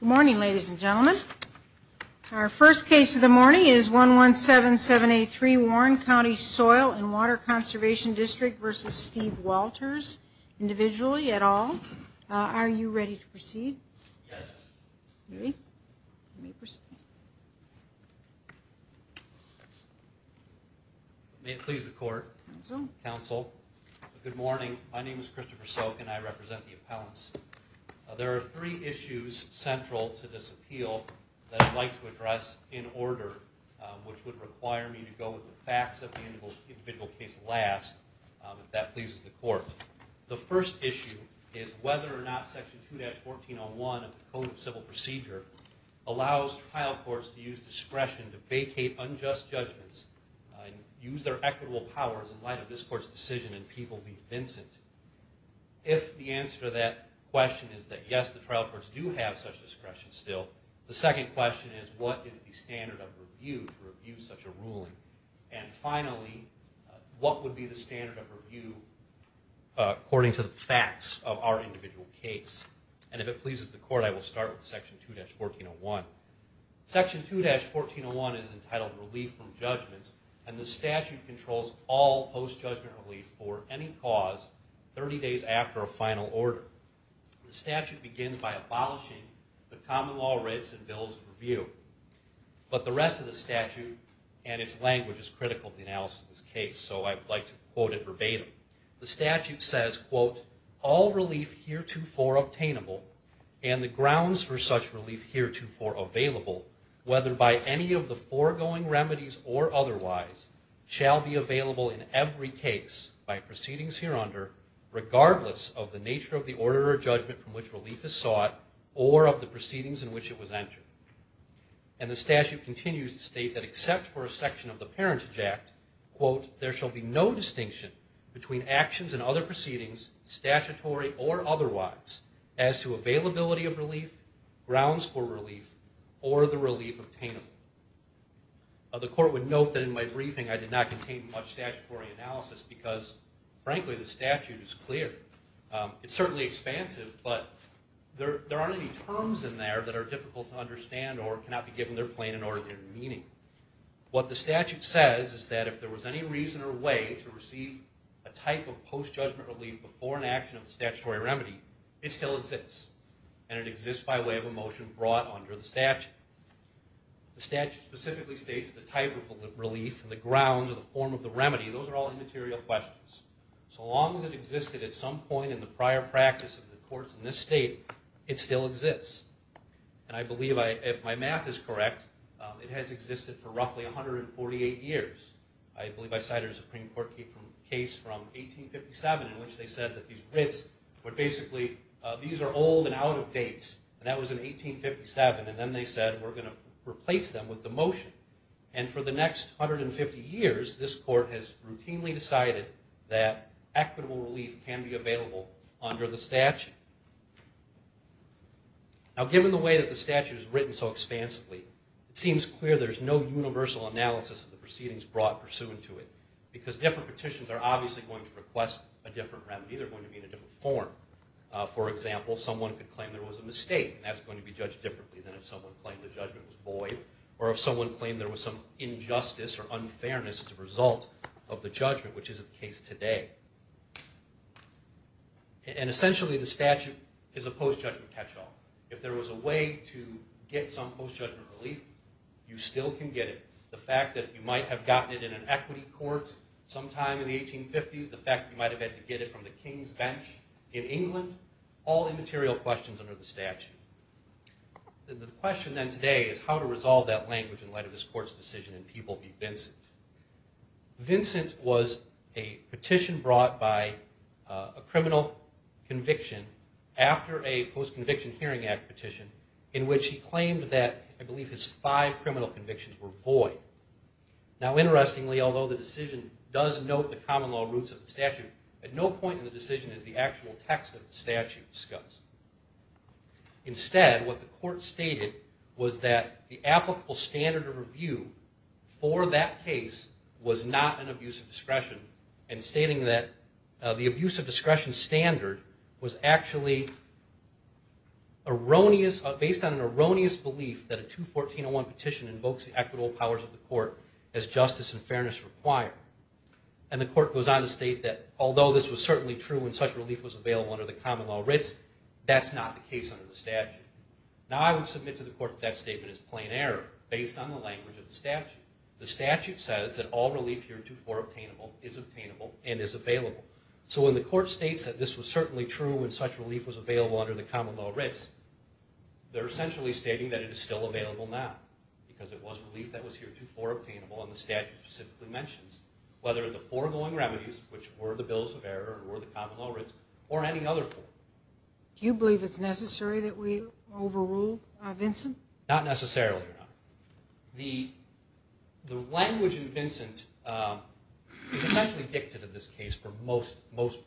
Good morning ladies and gentlemen. Our first case of the morning is 117783 Warren County Soil and Water Conservation District v. Steve Walters individually at all. Are you ready to proceed? May it please the court, counsel. Good morning my name is Christopher Soak and I represent the appellants. There are three issues central to this appeal that I'd like to address in order which would require me to go with the facts of the individual case last if that pleases the court. The first issue is whether or not section 2-1401 of the Code of Civil Procedure allows trial courts to use discretion to vacate unjust judgments and use their equitable powers in light of this trial court's decision in People v. Vincent. If the answer to that question is that yes the trial courts do have such discretion still, the second question is what is the standard of review to review such a ruling? And finally, what would be the standard of review according to the facts of our individual case? And if it pleases the court I will start with section 2-1401. Section 2-1401 is entitled Relief from Judgments and the statute controls all post-judgment relief for any cause 30 days after a final order. The statute begins by abolishing the common law rights and bills of review but the rest of the statute and its language is critical to the analysis of this case so I'd like to quote it verbatim. The statute says, quote, all relief heretofore obtainable and the grounds for such or otherwise shall be available in every case by proceedings hereunder regardless of the nature of the order or judgment from which relief is sought or of the proceedings in which it was entered. And the statute continues to state that except for a section of the Parentage Act, quote, there shall be no distinction between actions and other proceedings statutory or otherwise as to the court would note that in my briefing I did not contain much statutory analysis because frankly the statute is clear. It's certainly expansive but there aren't any terms in there that are difficult to understand or cannot be given their plain and ordinary meaning. What the statute says is that if there was any reason or way to receive a type of post-judgment relief before an action of the statutory remedy it still exists and it exists by way of a motion brought under the statute. The statute specifically states the type of relief and the grounds or the form of the remedy those are all immaterial questions. So long as it existed at some point in the prior practice of the courts in this state it still exists and I believe if my math is correct it has existed for roughly 148 years. I believe I cited a Supreme Court case from 1857 in which they said that these writs were basically these are old and out of date and that was in 1857 and then they said we're going to replace them with the motion and for the next 150 years this court has routinely decided that equitable relief can be available under the statute. Now given the way that the statute is written so expansively it seems clear there's no universal analysis of the proceedings brought pursuant to it because different petitions are obviously going to request a different remedy, they're going to be in a different form. For example someone could claim there was a mistake and that's going to be judged differently than if someone claimed the judgment was void or if someone claimed there was some injustice or unfairness as a result of the judgment which is the case today. And essentially the statute is a post-judgment catch-all. If there was a way to get some post-judgment relief you still can get it. The fact that you might have gotten it in an equity court sometime in the 1850s, the fact that you might have had to get it from the king's bench in England, all immaterial questions under the statute. The question then today is how to resolve that language in light of this court's decision and people be Vincent. Vincent was a petition brought by a criminal conviction after a post-conviction Hearing Act petition in which he claimed that I believe his five criminal convictions were void. Now interestingly although the decision does note the non-law roots of the statute, at no point in the decision is the actual text of the statute discussed. Instead what the court stated was that the applicable standard of review for that case was not an abuse of discretion and stating that the abuse of discretion standard was actually erroneous, based on an erroneous belief that a 214.01 petition invokes the equitable powers of the court. The court goes on to state that although this was certainly true when such relief was available under the common law writs, that's not the case under the statute. Now I would submit to the court that that statement is plain error based on the language of the statute. The statute says that all relief here in 2.4 obtainable is obtainable and is available. So when the court states that this was certainly true when such relief was available under the common law writs, they're essentially stating that it is still available now because it was relief that was here 2.4 obtainable and the statute specifically mentions whether the foregoing remedies, which were the bills of error or the common law writs, or any other form. Do you believe it's necessary that we overrule Vincent? Not necessarily. The language in Vincent is essentially dictated in this case for most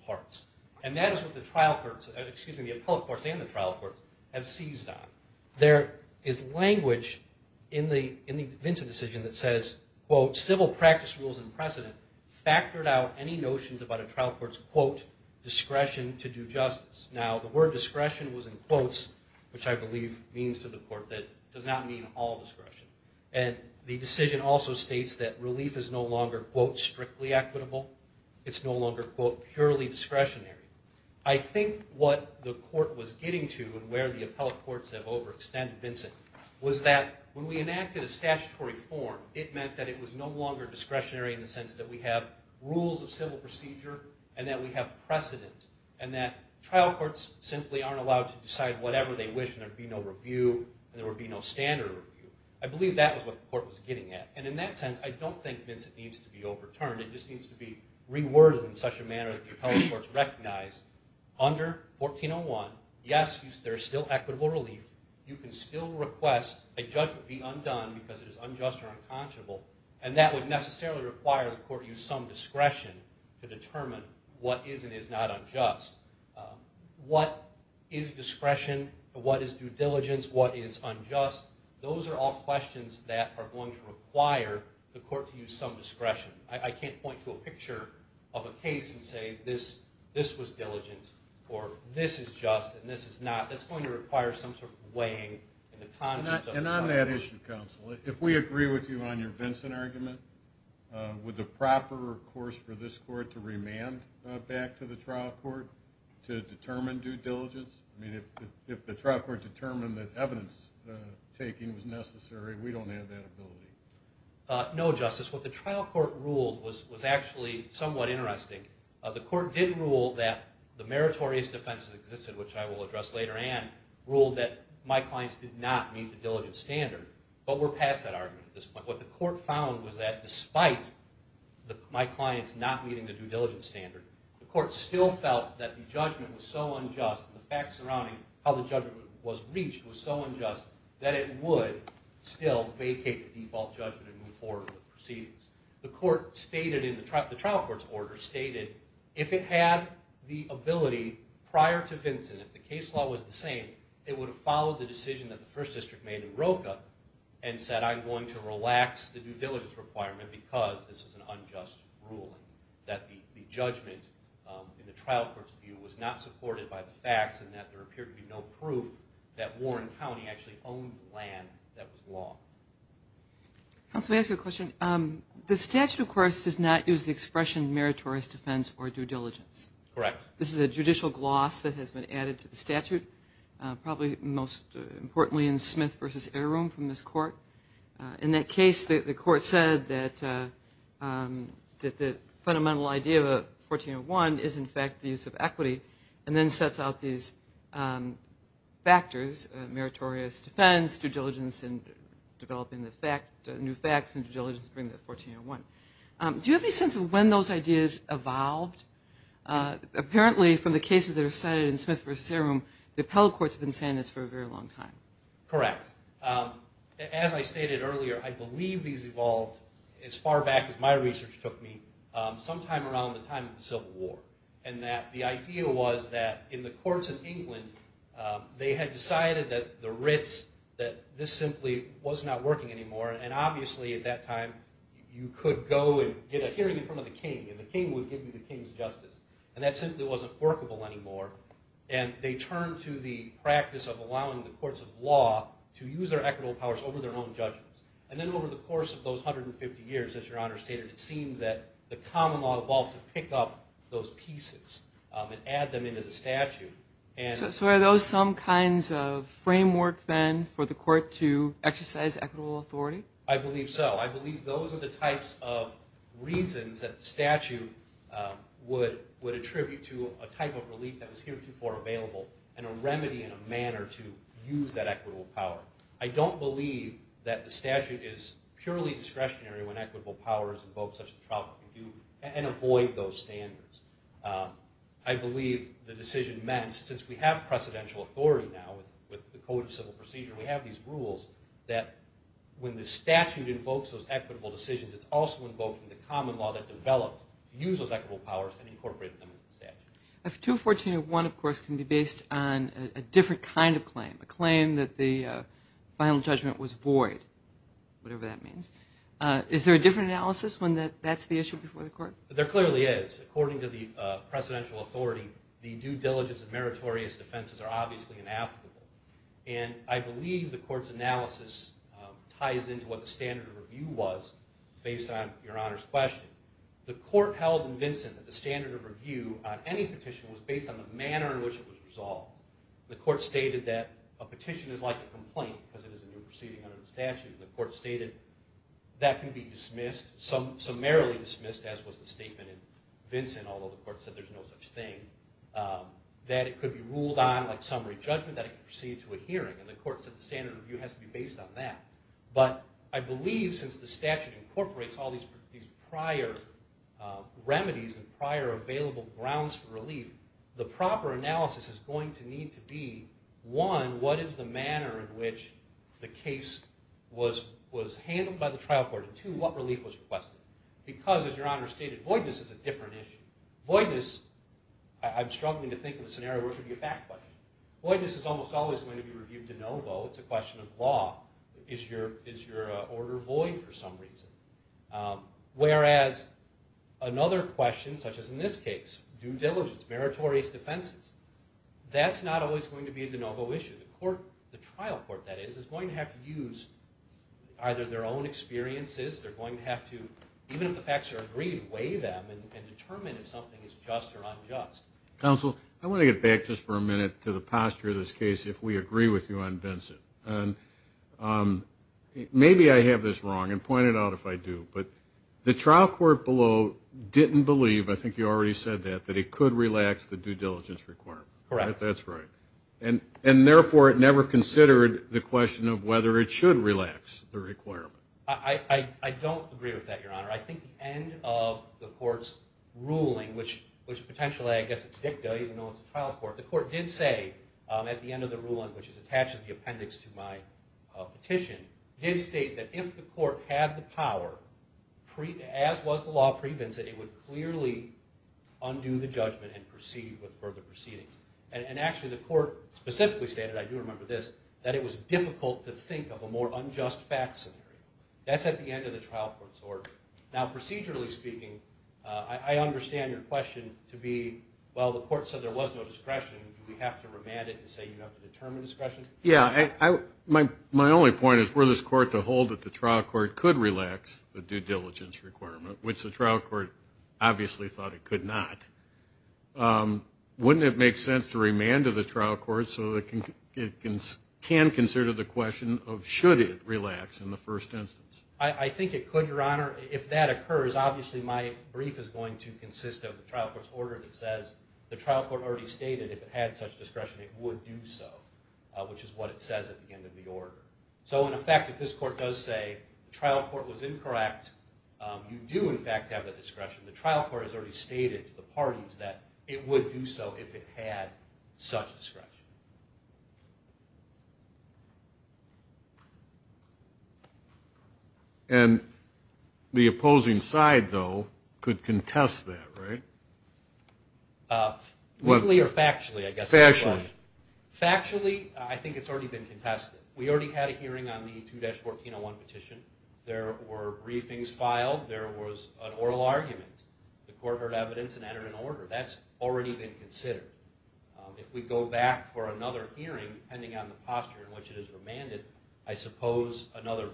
parts and that is what the trial courts, excuse me, the appellate courts and the trial courts have seized on. There is language in the Vincent decision that says, quote, civil practice rules and precedent factored out any notions about a trial court's, quote, discretion to do justice. Now the word discretion was in quotes, which I believe means to the court that it does not mean all discretion. And the decision also states that relief is no longer, quote, strictly equitable. It's no longer, quote, purely discretionary. I think what the court was getting to and where the appellate courts have overextended Vincent was that when we enacted a statutory form, it meant that it was no longer discretionary in the sense that we have rules of civil procedure and that we have precedent and that trial courts simply aren't allowed to decide whatever they wish and there would be no review and there would be no standard review. I believe that was what the court was getting at. And in that sense, I don't think Vincent needs to be overturned. It just needs to be reworded in such a manner that the appellate courts recognize under 1401, yes, there's still equitable relief. You can still request a judgment be undone because it is unjust or unconscionable and that would necessarily require the court to use some discretion to determine what is and is not unjust. What is discretion? What is due diligence? What is unjust? Those are all questions that are going to require the court to use some discretion. I can't point to a picture of a case and say this was diligent or this is just and this is not. That's going to require some sort of weighing. And on that issue, counsel, if we agree with you on your Vincent argument, would the proper course for this court to remand back to the trial court to determine due diligence? I mean, if the trial court determined that evidence-taking was necessary, we don't have that ability. No, Justice. What the court did rule that the meritorious defenses existed, which I will address later and ruled that my clients did not meet the diligent standard, but we're past that argument at this point. What the court found was that despite my clients not meeting the due diligence standard, the court still felt that the judgment was so unjust and the facts surrounding how the judgment was reached was so unjust that it would still vacate the default judgment and move forward with it. If it had the ability prior to Vincent, if the case law was the same, it would have followed the decision that the First District made in Roka and said I'm going to relax the due diligence requirement because this is an unjust ruling, that the judgment in the trial court's view was not supported by the facts and that there appeared to be no proof that Warren County actually owned land that was law. Counsel, may I ask you a question? The statute, of course, does not use the meritorious defense or due diligence. This is a judicial gloss that has been added to the statute, probably most importantly in Smith v. Heirum from this court. In that case, the court said that the fundamental idea of a 1401 is in fact the use of equity and then sets out these factors, meritorious defense, due diligence in developing the fact, new facts and due diligence during the 1401. Do you have any sense of when those ideas evolved? Apparently from the cases that are cited in Smith v. Heirum, the appellate court's been saying this for a very long time. Correct. As I stated earlier, I believe these evolved as far back as my research took me sometime around the time of the Civil War and that the idea was that in the courts of England they had decided that the writs that this simply was not working anymore and obviously at that time you could go and get a hearing in front of the king and the king would give you the king's justice and that simply wasn't workable anymore and they turned to the practice of allowing the courts of law to use their equitable powers over their own judgments and then over the course of those hundred and fifty years as your honor stated it seemed that the common law evolved to pick up those pieces and add them into the statute. So are those some kinds of framework then for the court to exercise equitable authority? I believe so. I believe those are the types of reasons that statute would attribute to a type of relief that was heretofore available and a remedy in a manner to use that equitable power. I don't believe that the statute is purely discretionary when equitable powers invoke such a trouble and avoid those standards. I believe the decision meant since we have precedential authority now with the Code of Civil Procedure we have these rules that when the statute invokes those equitable decisions it's also invoking the common law that developed to use those equitable powers and incorporate them into the statute. If 214.01 of course can be based on a different kind of claim, a claim that the final judgment was void, whatever that means, is there a different analysis when that that's the issue before the court? There clearly is. According to the precedential authority the due diligence and meritorious defenses are obviously inapplicable and I believe the court's analysis ties into what the standard of review was based on Your Honor's question. The court held in Vinson that the standard of review on any petition was based on the manner in which it was resolved. The court stated that a petition is like a complaint because it is a new proceeding under the statute. The court stated that can be dismissed, summarily dismissed as was the statement in Vinson, although the court said there's no such thing, that it could be ruled on like summary judgment, that it could proceed to a hearing and the court said the standard of review has to be based on that. But I believe since the statute incorporates all these prior remedies and prior available grounds for relief, the proper analysis is going to need to be, one, what is the manner in which the case was was handled by the trial court, and two, what relief was requested. Because as Your Honor stated voidness is a different issue. Voidness, I'm struggling to think of a scenario where it could be a fact question. Voidness is almost always going to be reviewed de novo. It's a question of law. Is your order void for some reason? Whereas another question, such as in this case, due diligence, meritorious defenses, that's not always going to be a de novo issue. The court, the trial court that is, is going to have to use either their own experiences, they're going to have to, even if the facts are agreed, weigh them and determine if something is just or unjust. Counsel, I want to get back just for a minute to the posture of this case if we agree with you on Vincent. Maybe I have this wrong and point it out if I do, but the trial court below didn't believe, I think you already said that, that it could relax the due diligence requirement. Correct. That's right. And therefore it never considered the question of whether it should relax the I think the end of the court's ruling, which potentially I guess it's dicta, even though it's a trial court, the court did say at the end of the ruling, which is attached to the appendix to my petition, did state that if the court had the power, as was the law pre-Vincent, it would clearly undo the judgment and proceed with further proceedings. And actually the court specifically stated, I do remember this, that it was difficult to think of a more unjust fact scenario. That's at the end of the trial court's order. Now procedurally speaking, I understand your question to be, well, the court said there was no discretion. Do we have to remand it and say you have to determine discretion? Yeah. My only point is, were this court to hold that the trial court could relax the due diligence requirement, which the trial court obviously thought it could not, wouldn't it make sense to remand to the trial court so it can consider the in the first instance? I think it could, your honor. If that occurs, obviously my brief is going to consist of the trial court's order that says the trial court already stated if it had such discretion it would do so, which is what it says at the end of the order. So in effect, if this court does say the trial court was incorrect, you do in fact have the discretion. The trial court has already stated to the parties that it would do so if it had such discretion. And the opposing side, though, could contest that, right? Weekly or factually, I guess. Factually. Factually, I think it's already been contested. We already had a hearing on the 2-1401 petition. There were briefings filed. There was an oral argument. The court heard evidence and entered an order. That's already been considered. If we go back for another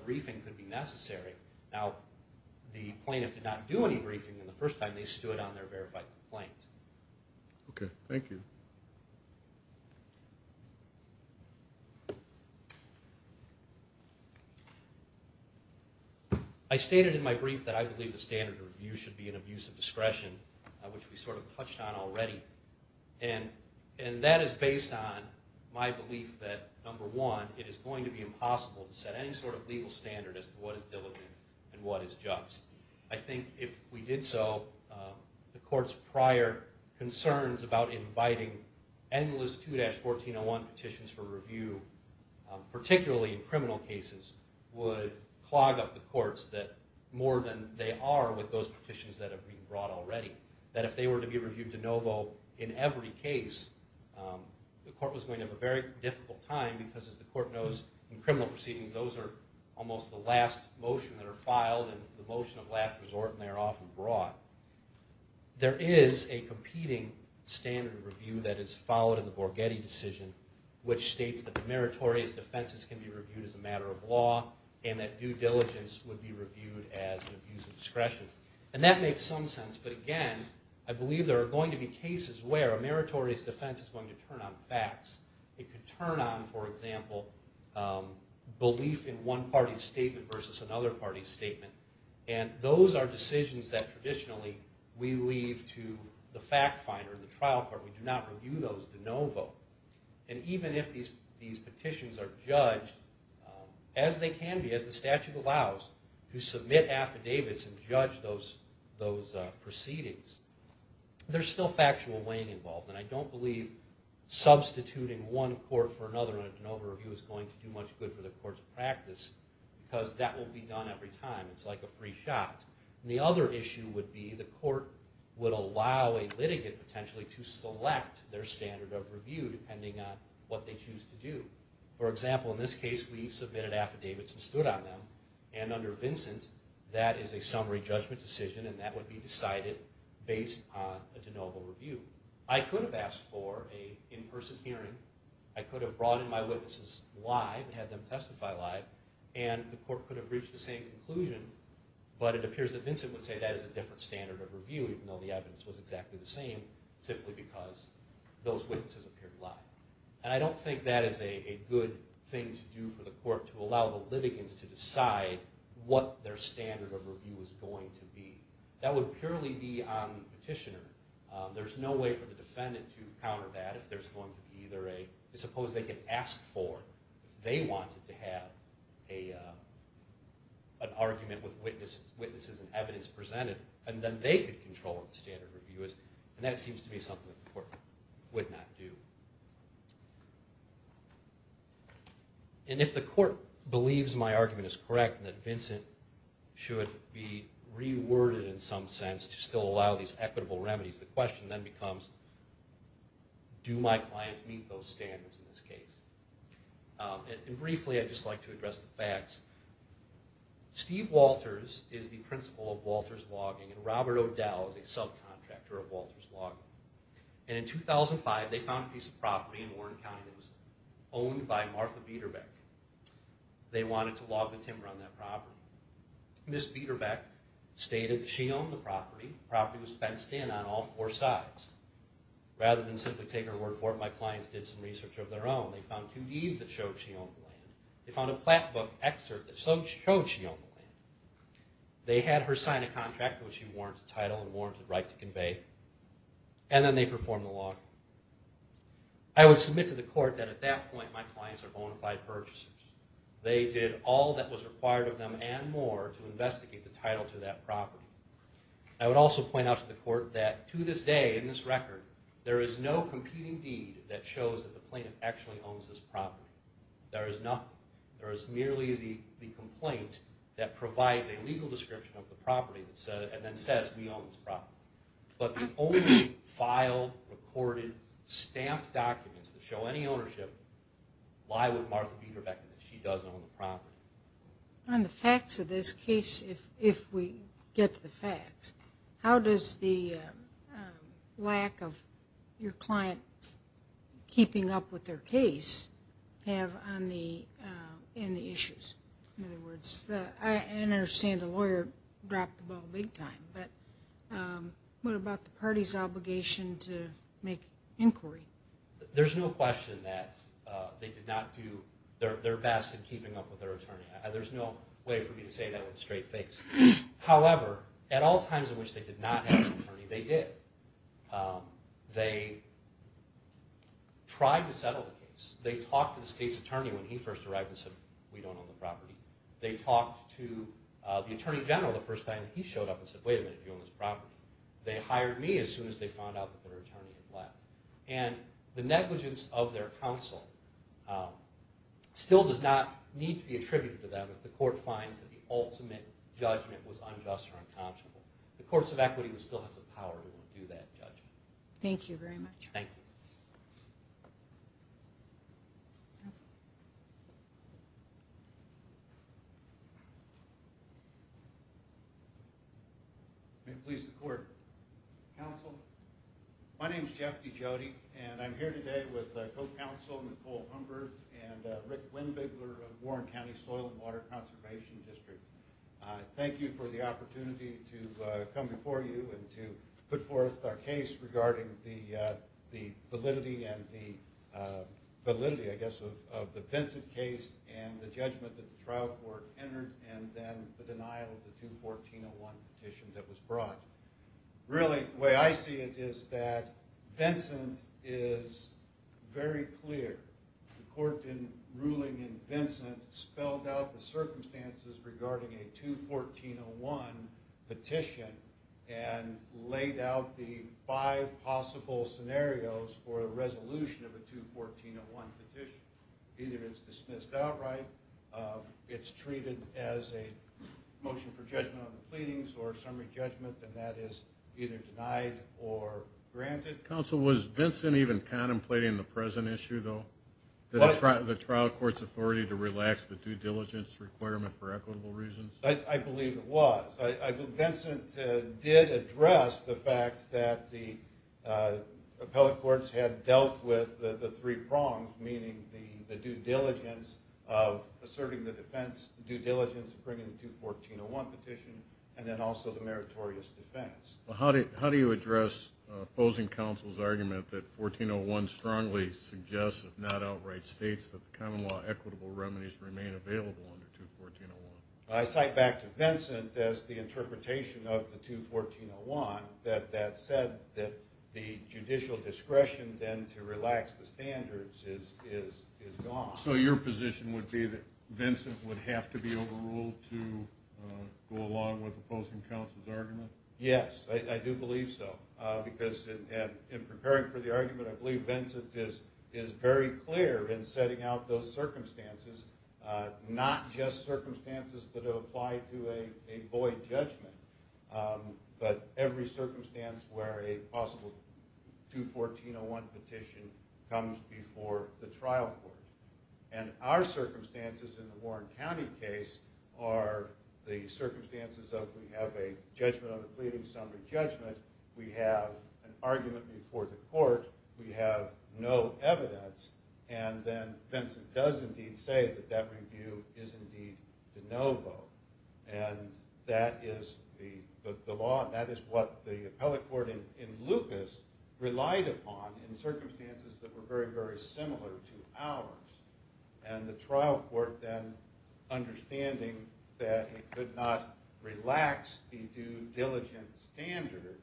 briefing could be necessary. Now, the plaintiff did not do any briefing the first time they stood on their verified complaint. Okay. Thank you. I stated in my brief that I believe the standard of review should be an abuse of discretion, which we sort of touched on already. And that is based on my view that it would be impossible to set any sort of legal standard as to what is diligent and what is just. I think if we did so, the court's prior concerns about inviting endless 2-1401 petitions for review, particularly in criminal cases, would clog up the courts that more than they are with those petitions that have been brought already. That if they were to be reviewed de novo in every case, the court was going to have a very difficult time because as the criminal proceedings, those are almost the last motion that are filed and the motion of last resort and they are often brought. There is a competing standard of review that is followed in the Borghetti decision, which states that meritorious defenses can be reviewed as a matter of law and that due diligence would be reviewed as an abuse of discretion. And that makes some sense, but again, I believe there are going to be cases where a meritorious defense is going to turn on facts. It could turn on, for example, belief in one party's statement versus another party's statement. And those are decisions that traditionally we leave to the fact finder, the trial court. We do not review those de novo. And even if these petitions are judged, as they can be, as the statute allows, to submit affidavits and judge those proceedings, there is still factual weighing involved. And I don't believe substituting one court for another in a de novo review is going to do much good for the court's practice because that will be done every time. It's like a free shot. The other issue would be the court would allow a litigant potentially to select their standard of review depending on what they choose to do. For example, in this case, we submitted affidavits and stood on them. And under Vincent, that is a standard of review based on a de novo review. I could have asked for an in-person hearing. I could have brought in my witnesses live and had them testify live. And the court could have reached the same conclusion. But it appears that Vincent would say that is a different standard of review even though the evidence was exactly the same simply because those witnesses appeared live. And I don't think that is a good thing to do for the court to allow the litigants to decide what their standard of review is going to be. That would purely be on the petitioner. There's no way for the defendant to counter that if there's going to be either a, suppose they could ask for, if they wanted to have an argument with witnesses and evidence presented, and then they could control what the standard review is. And that seems to be something that the court would not do. And if the court believes my argument is correct and that Vincent should be reworded in some sense to still allow these equitable remedies, the question then becomes, do my clients meet those standards in this case? And briefly, I'd just like to address the facts. Steve Walters is the principal of Walters Logging and Robert O'Dell is a subcontractor of Walters Logging. And in this property in Warren County, it was owned by Martha Biederbeck. They wanted to log the timber on that property. Ms. Biederbeck stated that she owned the property. The property was fenced in on all four sides. Rather than simply take her word for it, my clients did some research of their own. They found two deeds that showed she owned the land. They found a plat book excerpt that showed she owned the land. They had her sign a contract which she warranted title and warranted right to I would submit to the court that at that point my clients are bona fide purchasers. They did all that was required of them and more to investigate the title to that property. I would also point out to the court that to this day in this record, there is no competing deed that shows that the plaintiff actually owns this property. There is nothing. There is merely the complaint that provides a legal description of the property and then says we documents that show any ownership lie with Martha Biederbeck that she does own the property. On the facts of this case, if we get to the facts, how does the lack of your client keeping up with their case have on the in the issues? In other words, I understand the lawyer dropped the ball big time, but what about the client's obligation to make inquiry? There's no question that they did not do their best in keeping up with their attorney. There's no way for me to say that with a straight face. However, at all times in which they did not have an attorney, they did. They tried to settle the case. They talked to the state's attorney when he first arrived and said we don't own the property. They talked to the attorney general the first time he showed up and said wait a minute, you own this property. They hired me as soon as they found out that their attorney had left. And the negligence of their counsel still does not need to be attributed to them. If the court finds that the ultimate judgment was unjust or unconscionable, the courts of equity will still have the power to do that judgment. Thank you very much. Thank you. May it please the court. Counsel, my name is Jeff D. Jody, and I'm here today with co-counsel Nicole Humber and Rick Lindvigler of Warren County Soil and Water Conservation District. Thank you for the opportunity to come before you and to put forth our case regarding the validity and the validity, I guess, of the Vincent case and the judgment that the trial court entered and then the denial of the 214-01 petition that was brought. Really, the way I see it is that Vincent is very clear. The court ruling in Vincent spelled out the laid out the five possible scenarios for a resolution of a 214-01 petition. Either it's dismissed outright, it's treated as a motion for judgment on the pleadings or summary judgment, and that is either denied or granted. Counsel, was Vincent even contemplating the present issue though? The trial court's authority to relax the due diligence requirement for equitable reasons? I address the fact that the appellate courts had dealt with the three prongs, meaning the due diligence of asserting the defense due diligence bringing the 214-01 petition and then also the meritorious defense. How do you address opposing counsel's argument that 1401 strongly suggests, if not outright, states that the common law equitable remedies remain available under 214-01? I cite back to Vincent as the interpretation of the 214-01 that that said that the judicial discretion then to relax the standards is gone. So your position would be that Vincent would have to be overruled to go along with opposing counsel's argument? Yes, I do believe so, because in preparing for the argument, I believe Vincent is very clear in setting out those circumstances that have applied to a void judgment, but every circumstance where a possible 214-01 petition comes before the trial court. And our circumstances in the Warren County case are the circumstances of we have a judgment on the pleading summary judgment, we have an argument before the court, we have no evidence, and then Vincent does indeed say that that review is indeed the no vote. And that is the law and that is what the appellate court in Lucas relied upon in circumstances that were very, very similar to ours. And the trial court then understanding that it could not relax the due diligence standard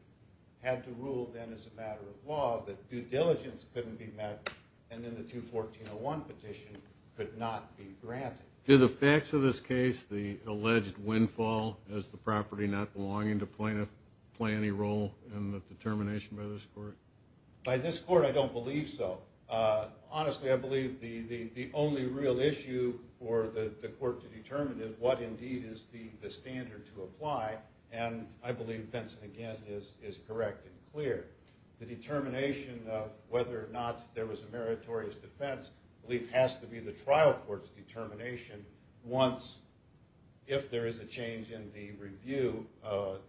had to rule then as a matter of law that due diligence couldn't be met and then the 214-01 petition could not be granted. Do the facts of this case, the alleged windfall as the property not belonging to plaintiff, play any role in the determination by this court? By this court I don't believe so. Honestly, I believe the the only real issue for the court to determine is what indeed is the determination of whether or not there was a meritorious defense. I believe it has to be the trial court's determination once, if there is a change in the review,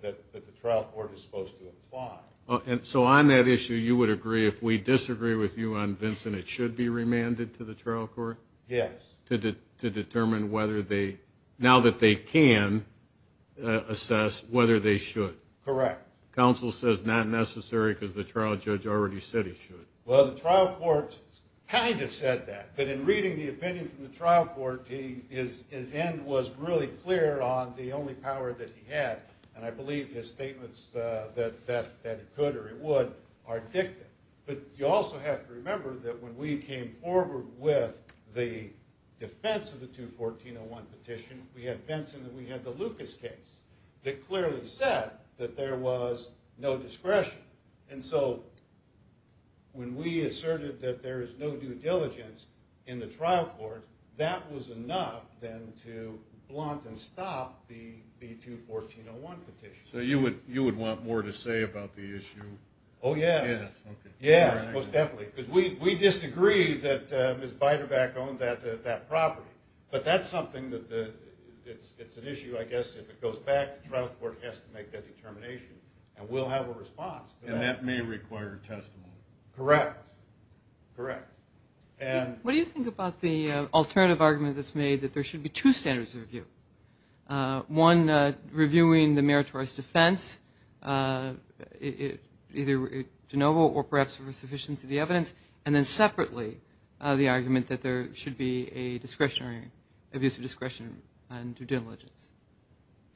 that the trial court is supposed to apply. And so on that issue you would agree if we disagree with you on Vincent it should be remanded to the trial court? Yes. To determine whether they, now that they can, assess whether they should? Correct. Counsel says not necessary because the trial judge already said he should. Well the trial court kind of said that, but in reading the opinion from the trial court his end was really clear on the only power that he had, and I believe his statements that it could or it would are dictated. But you also have to remember that when we came forward with the defense of the 214-01 petition, we had Vincent and we had the Lucas case that clearly said that there was no discretion. And so when we asserted that there is no due diligence in the trial court, that was enough then to blunt and stop the 214-01 petition. So you would you would want more to say about the issue? Oh yes, yes most definitely, because we disagree that Ms. Biderback owned that property, but that's something that it's an issue I guess if it goes back, the trial court has to make that determination, and we'll have a response. And that may require testimony. Correct, correct. And what do you think about the alternative argument that's made that there should be two standards of review? One reviewing the meritorious defense, either de novo or perhaps for sufficiency of the evidence, and then two discretion and due diligence.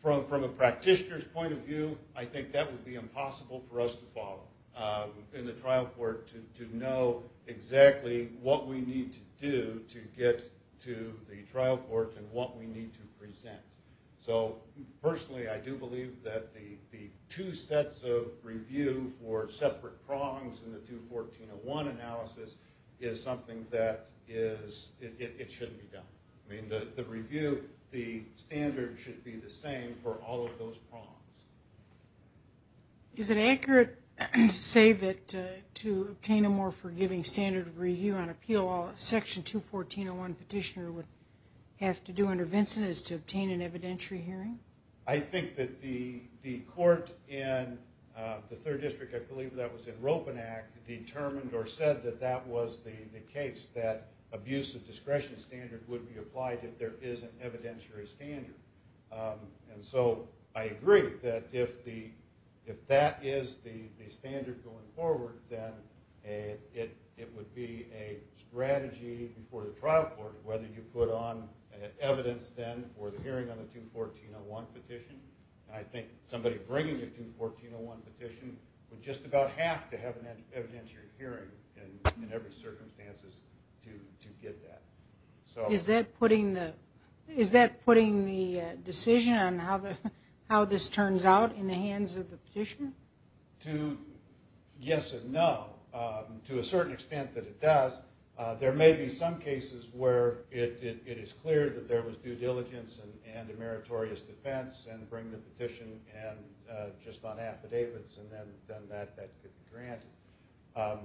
From a practitioner's point of view, I think that would be impossible for us to follow in the trial court to know exactly what we need to do to get to the trial court and what we need to present. So personally I do believe that the two sets of review for separate prongs in the 214-01 analysis is something that is, it shouldn't be done. I mean the standard should be the same for all of those prongs. Is it accurate to say that to obtain a more forgiving standard of review on appeal, Section 214-01 petitioner would have to do under Vincent is to obtain an evidentiary hearing? I think that the the court in the Third District, I believe that was in Ropen Act, determined or said that that was the case, that abuse of discretion standard would be applied if there is an evidentiary standard. And so I agree that if that is the standard going forward, then it would be a strategy before the trial court whether you put on evidence then for the hearing on the 214-01 petition. I think somebody bringing the 214-01 petition would just about have to have an evidentiary hearing in every circumstances to get that. So is that putting the decision on how the how this turns out in the hands of the petitioner? Yes and no. To a certain extent that it does. There may be some cases where it is clear that there was due diligence and and a meritorious defense and bring the petition and just on affidavits and then that could be granted.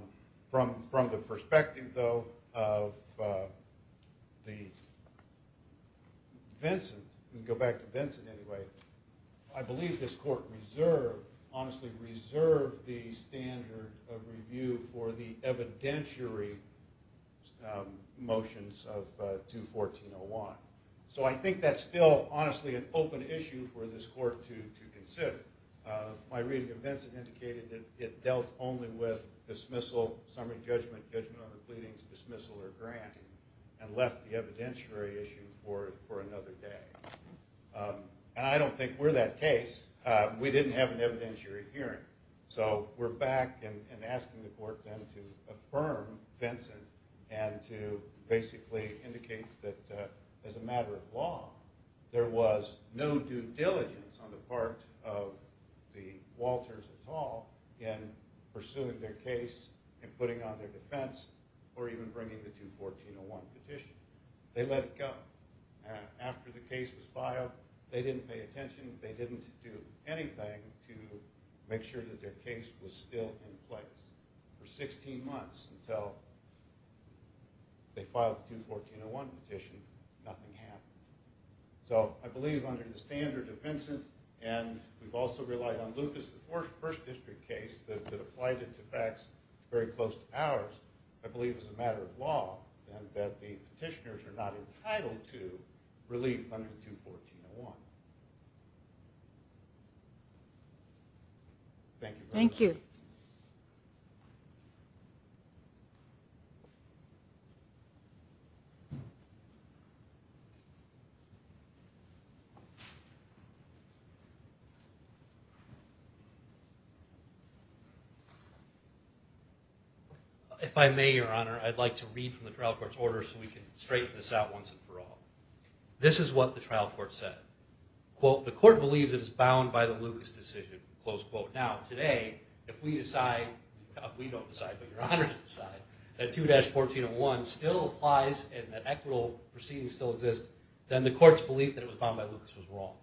From the perspective though of the Vincent, we can go back to Vincent anyway, I believe this court reserved, honestly reserved, the standard of review for the evidentiary motions of 214-01. So I think that's still honestly an open issue for this court to consider. My reading of Vincent indicated that it dealt only with dismissal, summary judgment, judgment on the pleadings, dismissal or granting and left the evidentiary issue for another day. And I don't think we're that case. We didn't have an evidentiary hearing. So we're back and asking the court then to affirm Vincent and to basically indicate that as a matter of law there was no due diligence on the part of the Walters at all in pursuing their case and putting on their defense or even bringing the 214-01 petition. They let it go. After the case was filed, they didn't pay attention, they didn't do anything to make sure that their case was still in So they filed the 214-01 petition, nothing happened. So I believe under the standard of Vincent and we've also relied on Lucas, the first district case that applied it to facts very close to ours, I believe is a matter of law and that the petitioners are not entitled to relief under 214-01. Thank you. If I may, Your Honor, I'd like to read from the trial court's order so we can straighten this out once and for all. This is what the trial court said. Quote, the court believes it is bound by the Lucas decision, close quote. Now today if we decide that 214-01 still applies and that equitable proceedings still exist, then the court's belief that it was bound by Lucas was wrong.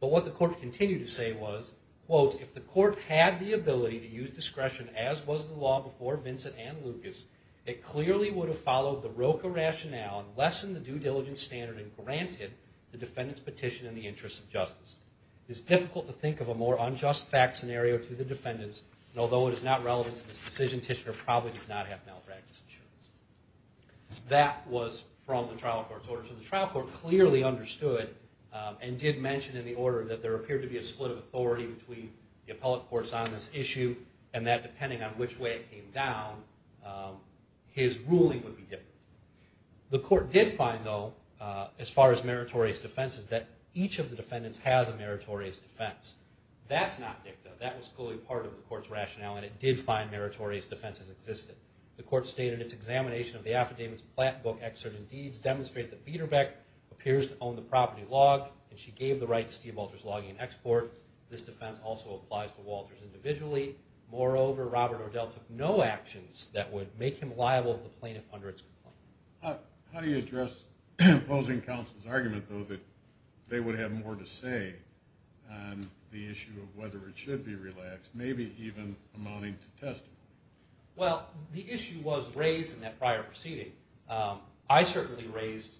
But what the court continued to say was, quote, if the court had the ability to use discretion as was the law before Vincent and Lucas, it clearly would have followed the Roka rationale and lessened the due diligence standard and granted the defendant's petition in the interest of justice. It is difficult to think of a more unjust fact scenario to the defendants and although it is not relevant to this decision, the petitioner probably does not have malpractice insurance. That was from the trial court's order. So the trial court clearly understood and did mention in the order that there appeared to be a split of authority between the appellate courts on this issue and that depending on which way it came down, his ruling would be different. The court did find though, as far as meritorious defenses, that each of the defendants has a meritorious defense. That's not dicta. That was clearly part of the court's rationale and it did find meritorious defenses existed. The court stated its examination of the affidavit's plat book excerpt in Deeds demonstrate that Biederbeck appears to own the property log and she gave the right to Steve Walters logging and export. This defense also applies to Walters individually. Moreover, Robert O'Dell took no actions that would make him liable to the plaintiff under its complaint. How do you address opposing counsel's argument though that they would have more to say on the issue of whether it should be relaxed, maybe even amounting to testing? Well, the issue was raised in that prior proceeding. I certainly raised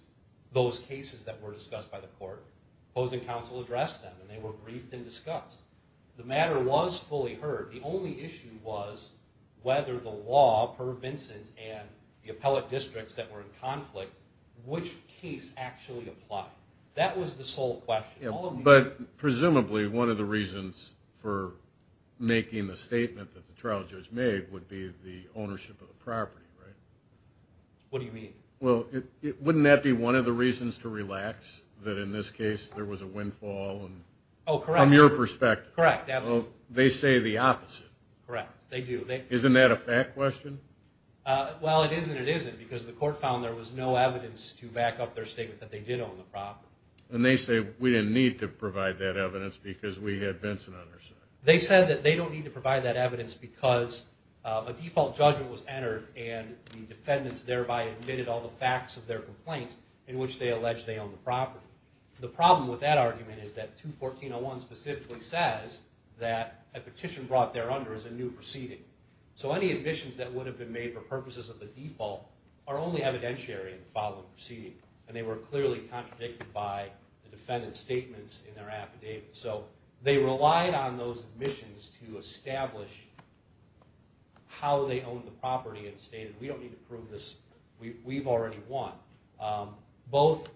those cases that were discussed by the court. Opposing counsel addressed them and they were briefed and discussed. The matter was fully heard. The only issue was whether the law per Vincent and the appellate districts that But presumably one of the reasons for making the statement that the trial judge made would be the ownership of the property, right? What do you mean? Well, wouldn't that be one of the reasons to relax that in this case there was a windfall? Oh correct. From your perspective. Correct. They say the opposite. Correct. They do. Isn't that a fact question? Well, it is and it isn't because the court found there was no evidence to back up their statement that they did own the property. And they say we didn't need to provide that evidence because we had Vincent on our side. They said that they don't need to provide that evidence because a default judgment was entered and the defendants thereby admitted all the facts of their complaints in which they allege they own the property. The problem with that argument is that 214-01 specifically says that a petition brought there under is a new proceeding. So any admissions that would have been made for purposes of the default are only evidentiary in clearly contradicted by the defendant's statements in their affidavit. So they relied on those admissions to establish how they owned the property and stated we don't need to prove this. We've already won. Both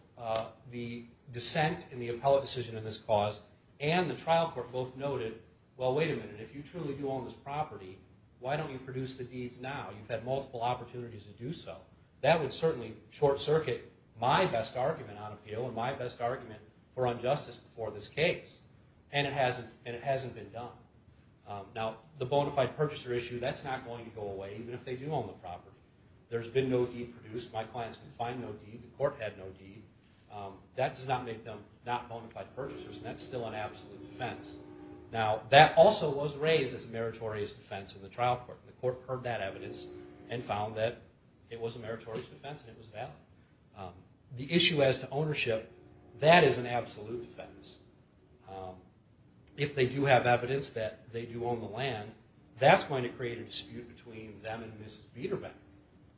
the dissent in the appellate decision in this cause and the trial court both noted, well wait a minute. If you truly do own this property, why don't you produce the deeds now? You've had multiple opportunities to do so. That would certainly short-circuit my best argument on appeal and my best argument for injustice before this case and it hasn't been done. Now the bona fide purchaser issue, that's not going to go away even if they do own the property. There's been no deed produced. My clients can find no deed. The court had no deed. That does not make them not bona fide purchasers and that's still an absolute defense. Now that also was raised as a meritorious defense in the trial court. The court heard that issue as to ownership, that is an absolute defense. If they do have evidence that they do own the land, that's going to create a dispute between them and Mrs. Biederbeck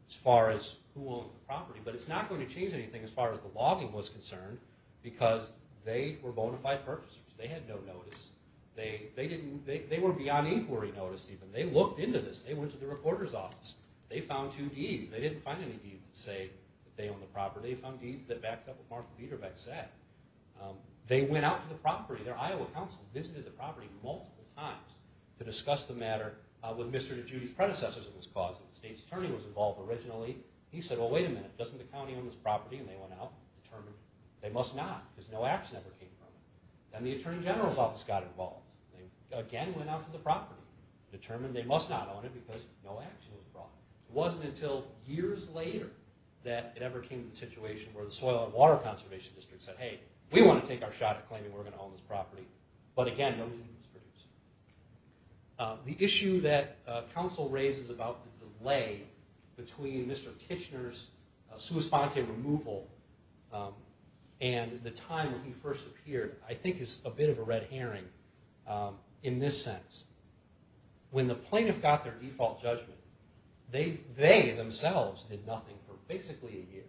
as far as who owns the property. But it's not going to change anything as far as the logging was concerned because they were bona fide purchasers. They had no notice. They were beyond inquiry notice even. They looked into this. They went to the reporter's office. They found two deeds. They didn't find any deeds that say they own the property. They found deeds that backed up what Martha Biederbeck said. They went out to the property. Their Iowa counsel visited the property multiple times to discuss the matter with Mr. DeGiudi's predecessors of this cause. The state's attorney was involved originally. He said, well, wait a minute. Doesn't the county own this property? And they went out and determined they must not because no action ever came from it. Then the Attorney General's office got involved. They again went out to the property, determined they must not own it because no action was brought. It wasn't until years later that it ever came to the situation where the Soil and Water Conservation District said, hey, we want to take our shot at claiming we're going to own this property. But again, no deed was produced. The issue that counsel raises about the delay between Mr. Kitchener's sua sponte removal and the time when he first appeared I think is a bit of a red herring in this sense. When the plaintiff got their default judgment, they themselves did nothing for basically a year.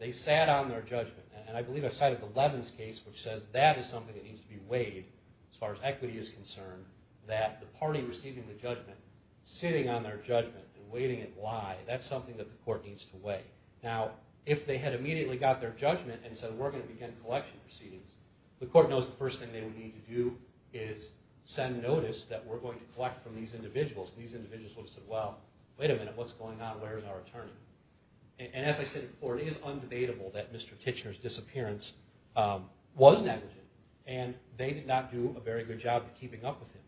They sat on their judgment. And I believe I cited the Levin's case, which says that is something that needs to be weighed as far as equity is concerned, that the party receiving the judgment, sitting on their judgment and waiting it lie, that's something that the court needs to weigh. Now, if they had immediately got their judgment and said we're going to begin collection proceedings, the court knows the first thing they would need to do is send notice that we're going to collect from these individuals. And these individuals would have said, well, wait a minute. What's going on? Where's our attorney? And as I said before, it is undebatable that Mr. Kitchener's disappearance was negligent. And they did not do a very good job of keeping up with him.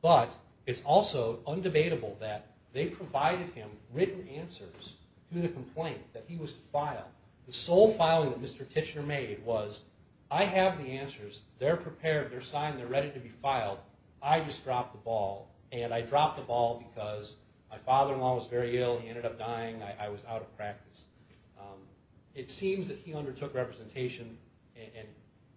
But it's also undebatable that they provided him written answers to the complaint that he was to file. The sole filing that Mr. Kitchener prepared, they're signed, they're ready to be filed. I just dropped the ball. And I dropped the ball because my father-in-law was very ill. He ended up dying. I was out of practice. It seems that he undertook representation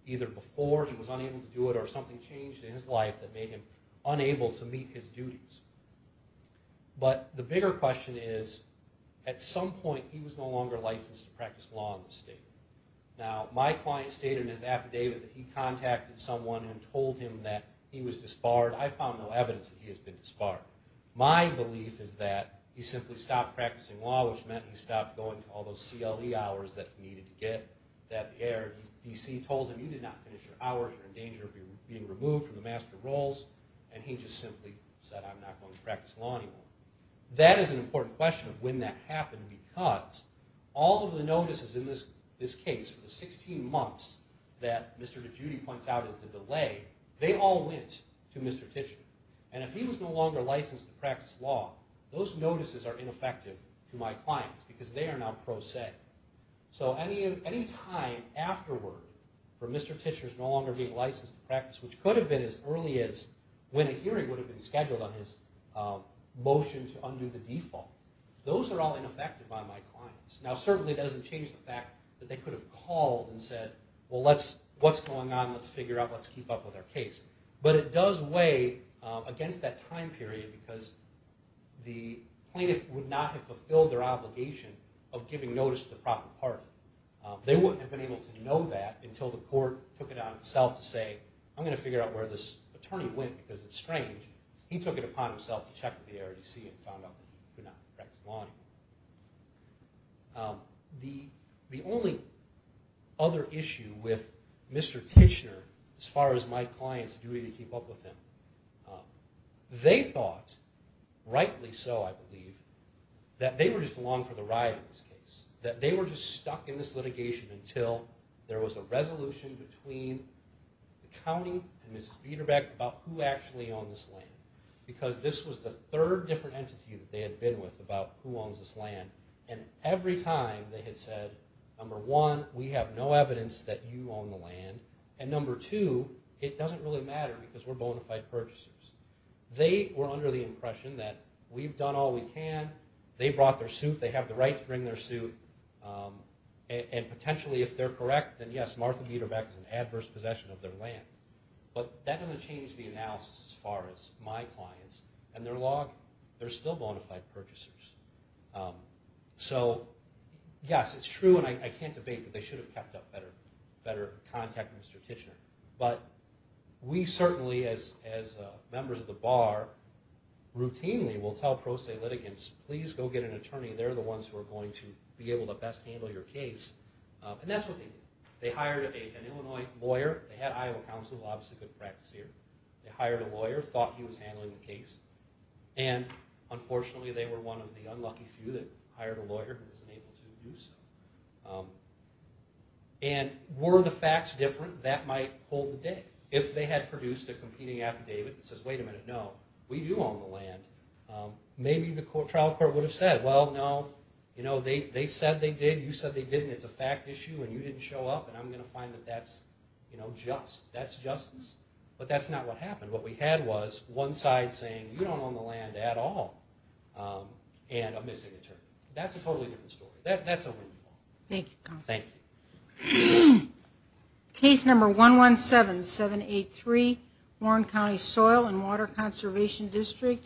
either before he was unable to do it or something changed in his life that made him unable to meet his duties. But the bigger question is, at some point he was no longer licensed to practice law in the state. Now, my client stated in his letter to someone and told him that he was disbarred. I found no evidence that he has been disbarred. My belief is that he simply stopped practicing law, which meant he stopped going to all those CLE hours that he needed to get that air. DC told him, you did not finish your hours. You're in danger of being removed from the Master of Roles. And he just simply said, I'm not going to practice law anymore. That is an important question of when that happened because all of the notices in this case for the 16 months that Mr. DeGiudi points out as the delay, they all went to Mr. Titchener. And if he was no longer licensed to practice law, those notices are ineffective to my clients because they are now pro se. So any time afterward for Mr. Titchener's no longer being licensed to practice, which could have been as early as when a hearing would have been scheduled on his motion to undo the default, those are all ineffective on my clients. Now, certainly that doesn't change the fact that they could have called and said, well, what's going on? Let's figure out, let's keep up with our case. But it does weigh against that time period because the plaintiff would not have fulfilled their obligation of giving notice to the proper party. They wouldn't have been able to know that until the court took it on itself to say, I'm going to figure out where this attorney went because it's strange. He took it upon himself to check with the ARDC and found out that he could not practice law anymore. The only other issue with Mr. Titchener, as far as my clients' duty to keep up with him, they thought, rightly so I believe, that they were just along for the ride in this case. That they were just stuck in this litigation until there was a resolution between the county and a third different entity that they had been with about who owns this land. And every time they had said, number one, we have no evidence that you own the land. And number two, it doesn't really matter because we're bonafide purchasers. They were under the impression that we've done all we can. They brought their suit. They have the right to bring their suit. And potentially, if they're correct, then yes, Martha Biederbeck is an adverse possession of their land. But that doesn't change the analysis as far as my clients and their law they're still bonafide purchasers. So yes, it's true and I can't debate that they should have kept up better contact with Mr. Titchener. But we certainly, as members of the bar, routinely will tell pro se litigants, please go get an attorney. They're the ones who are going to be able to best handle your case. And that's what they did. They hired an Illinois lawyer. They had Iowa counsel, obviously good practice here. They hired a lawyer, thought he was handling the case. And unfortunately, they were one of the unlucky few that hired a lawyer who wasn't able to do so. And were the facts different, that might hold the day. If they had produced a competing affidavit that says, wait a minute, no, we do own the land, maybe the trial court would have said, well, no, they said they did, you said they didn't, it's a fact issue and you didn't show up and I'm going to find that that's just. That's justice. But that's not what happened. What we had was one side saying, you don't own the land at all. And a missing attorney. That's a totally different story. That's a win-win. Thank you.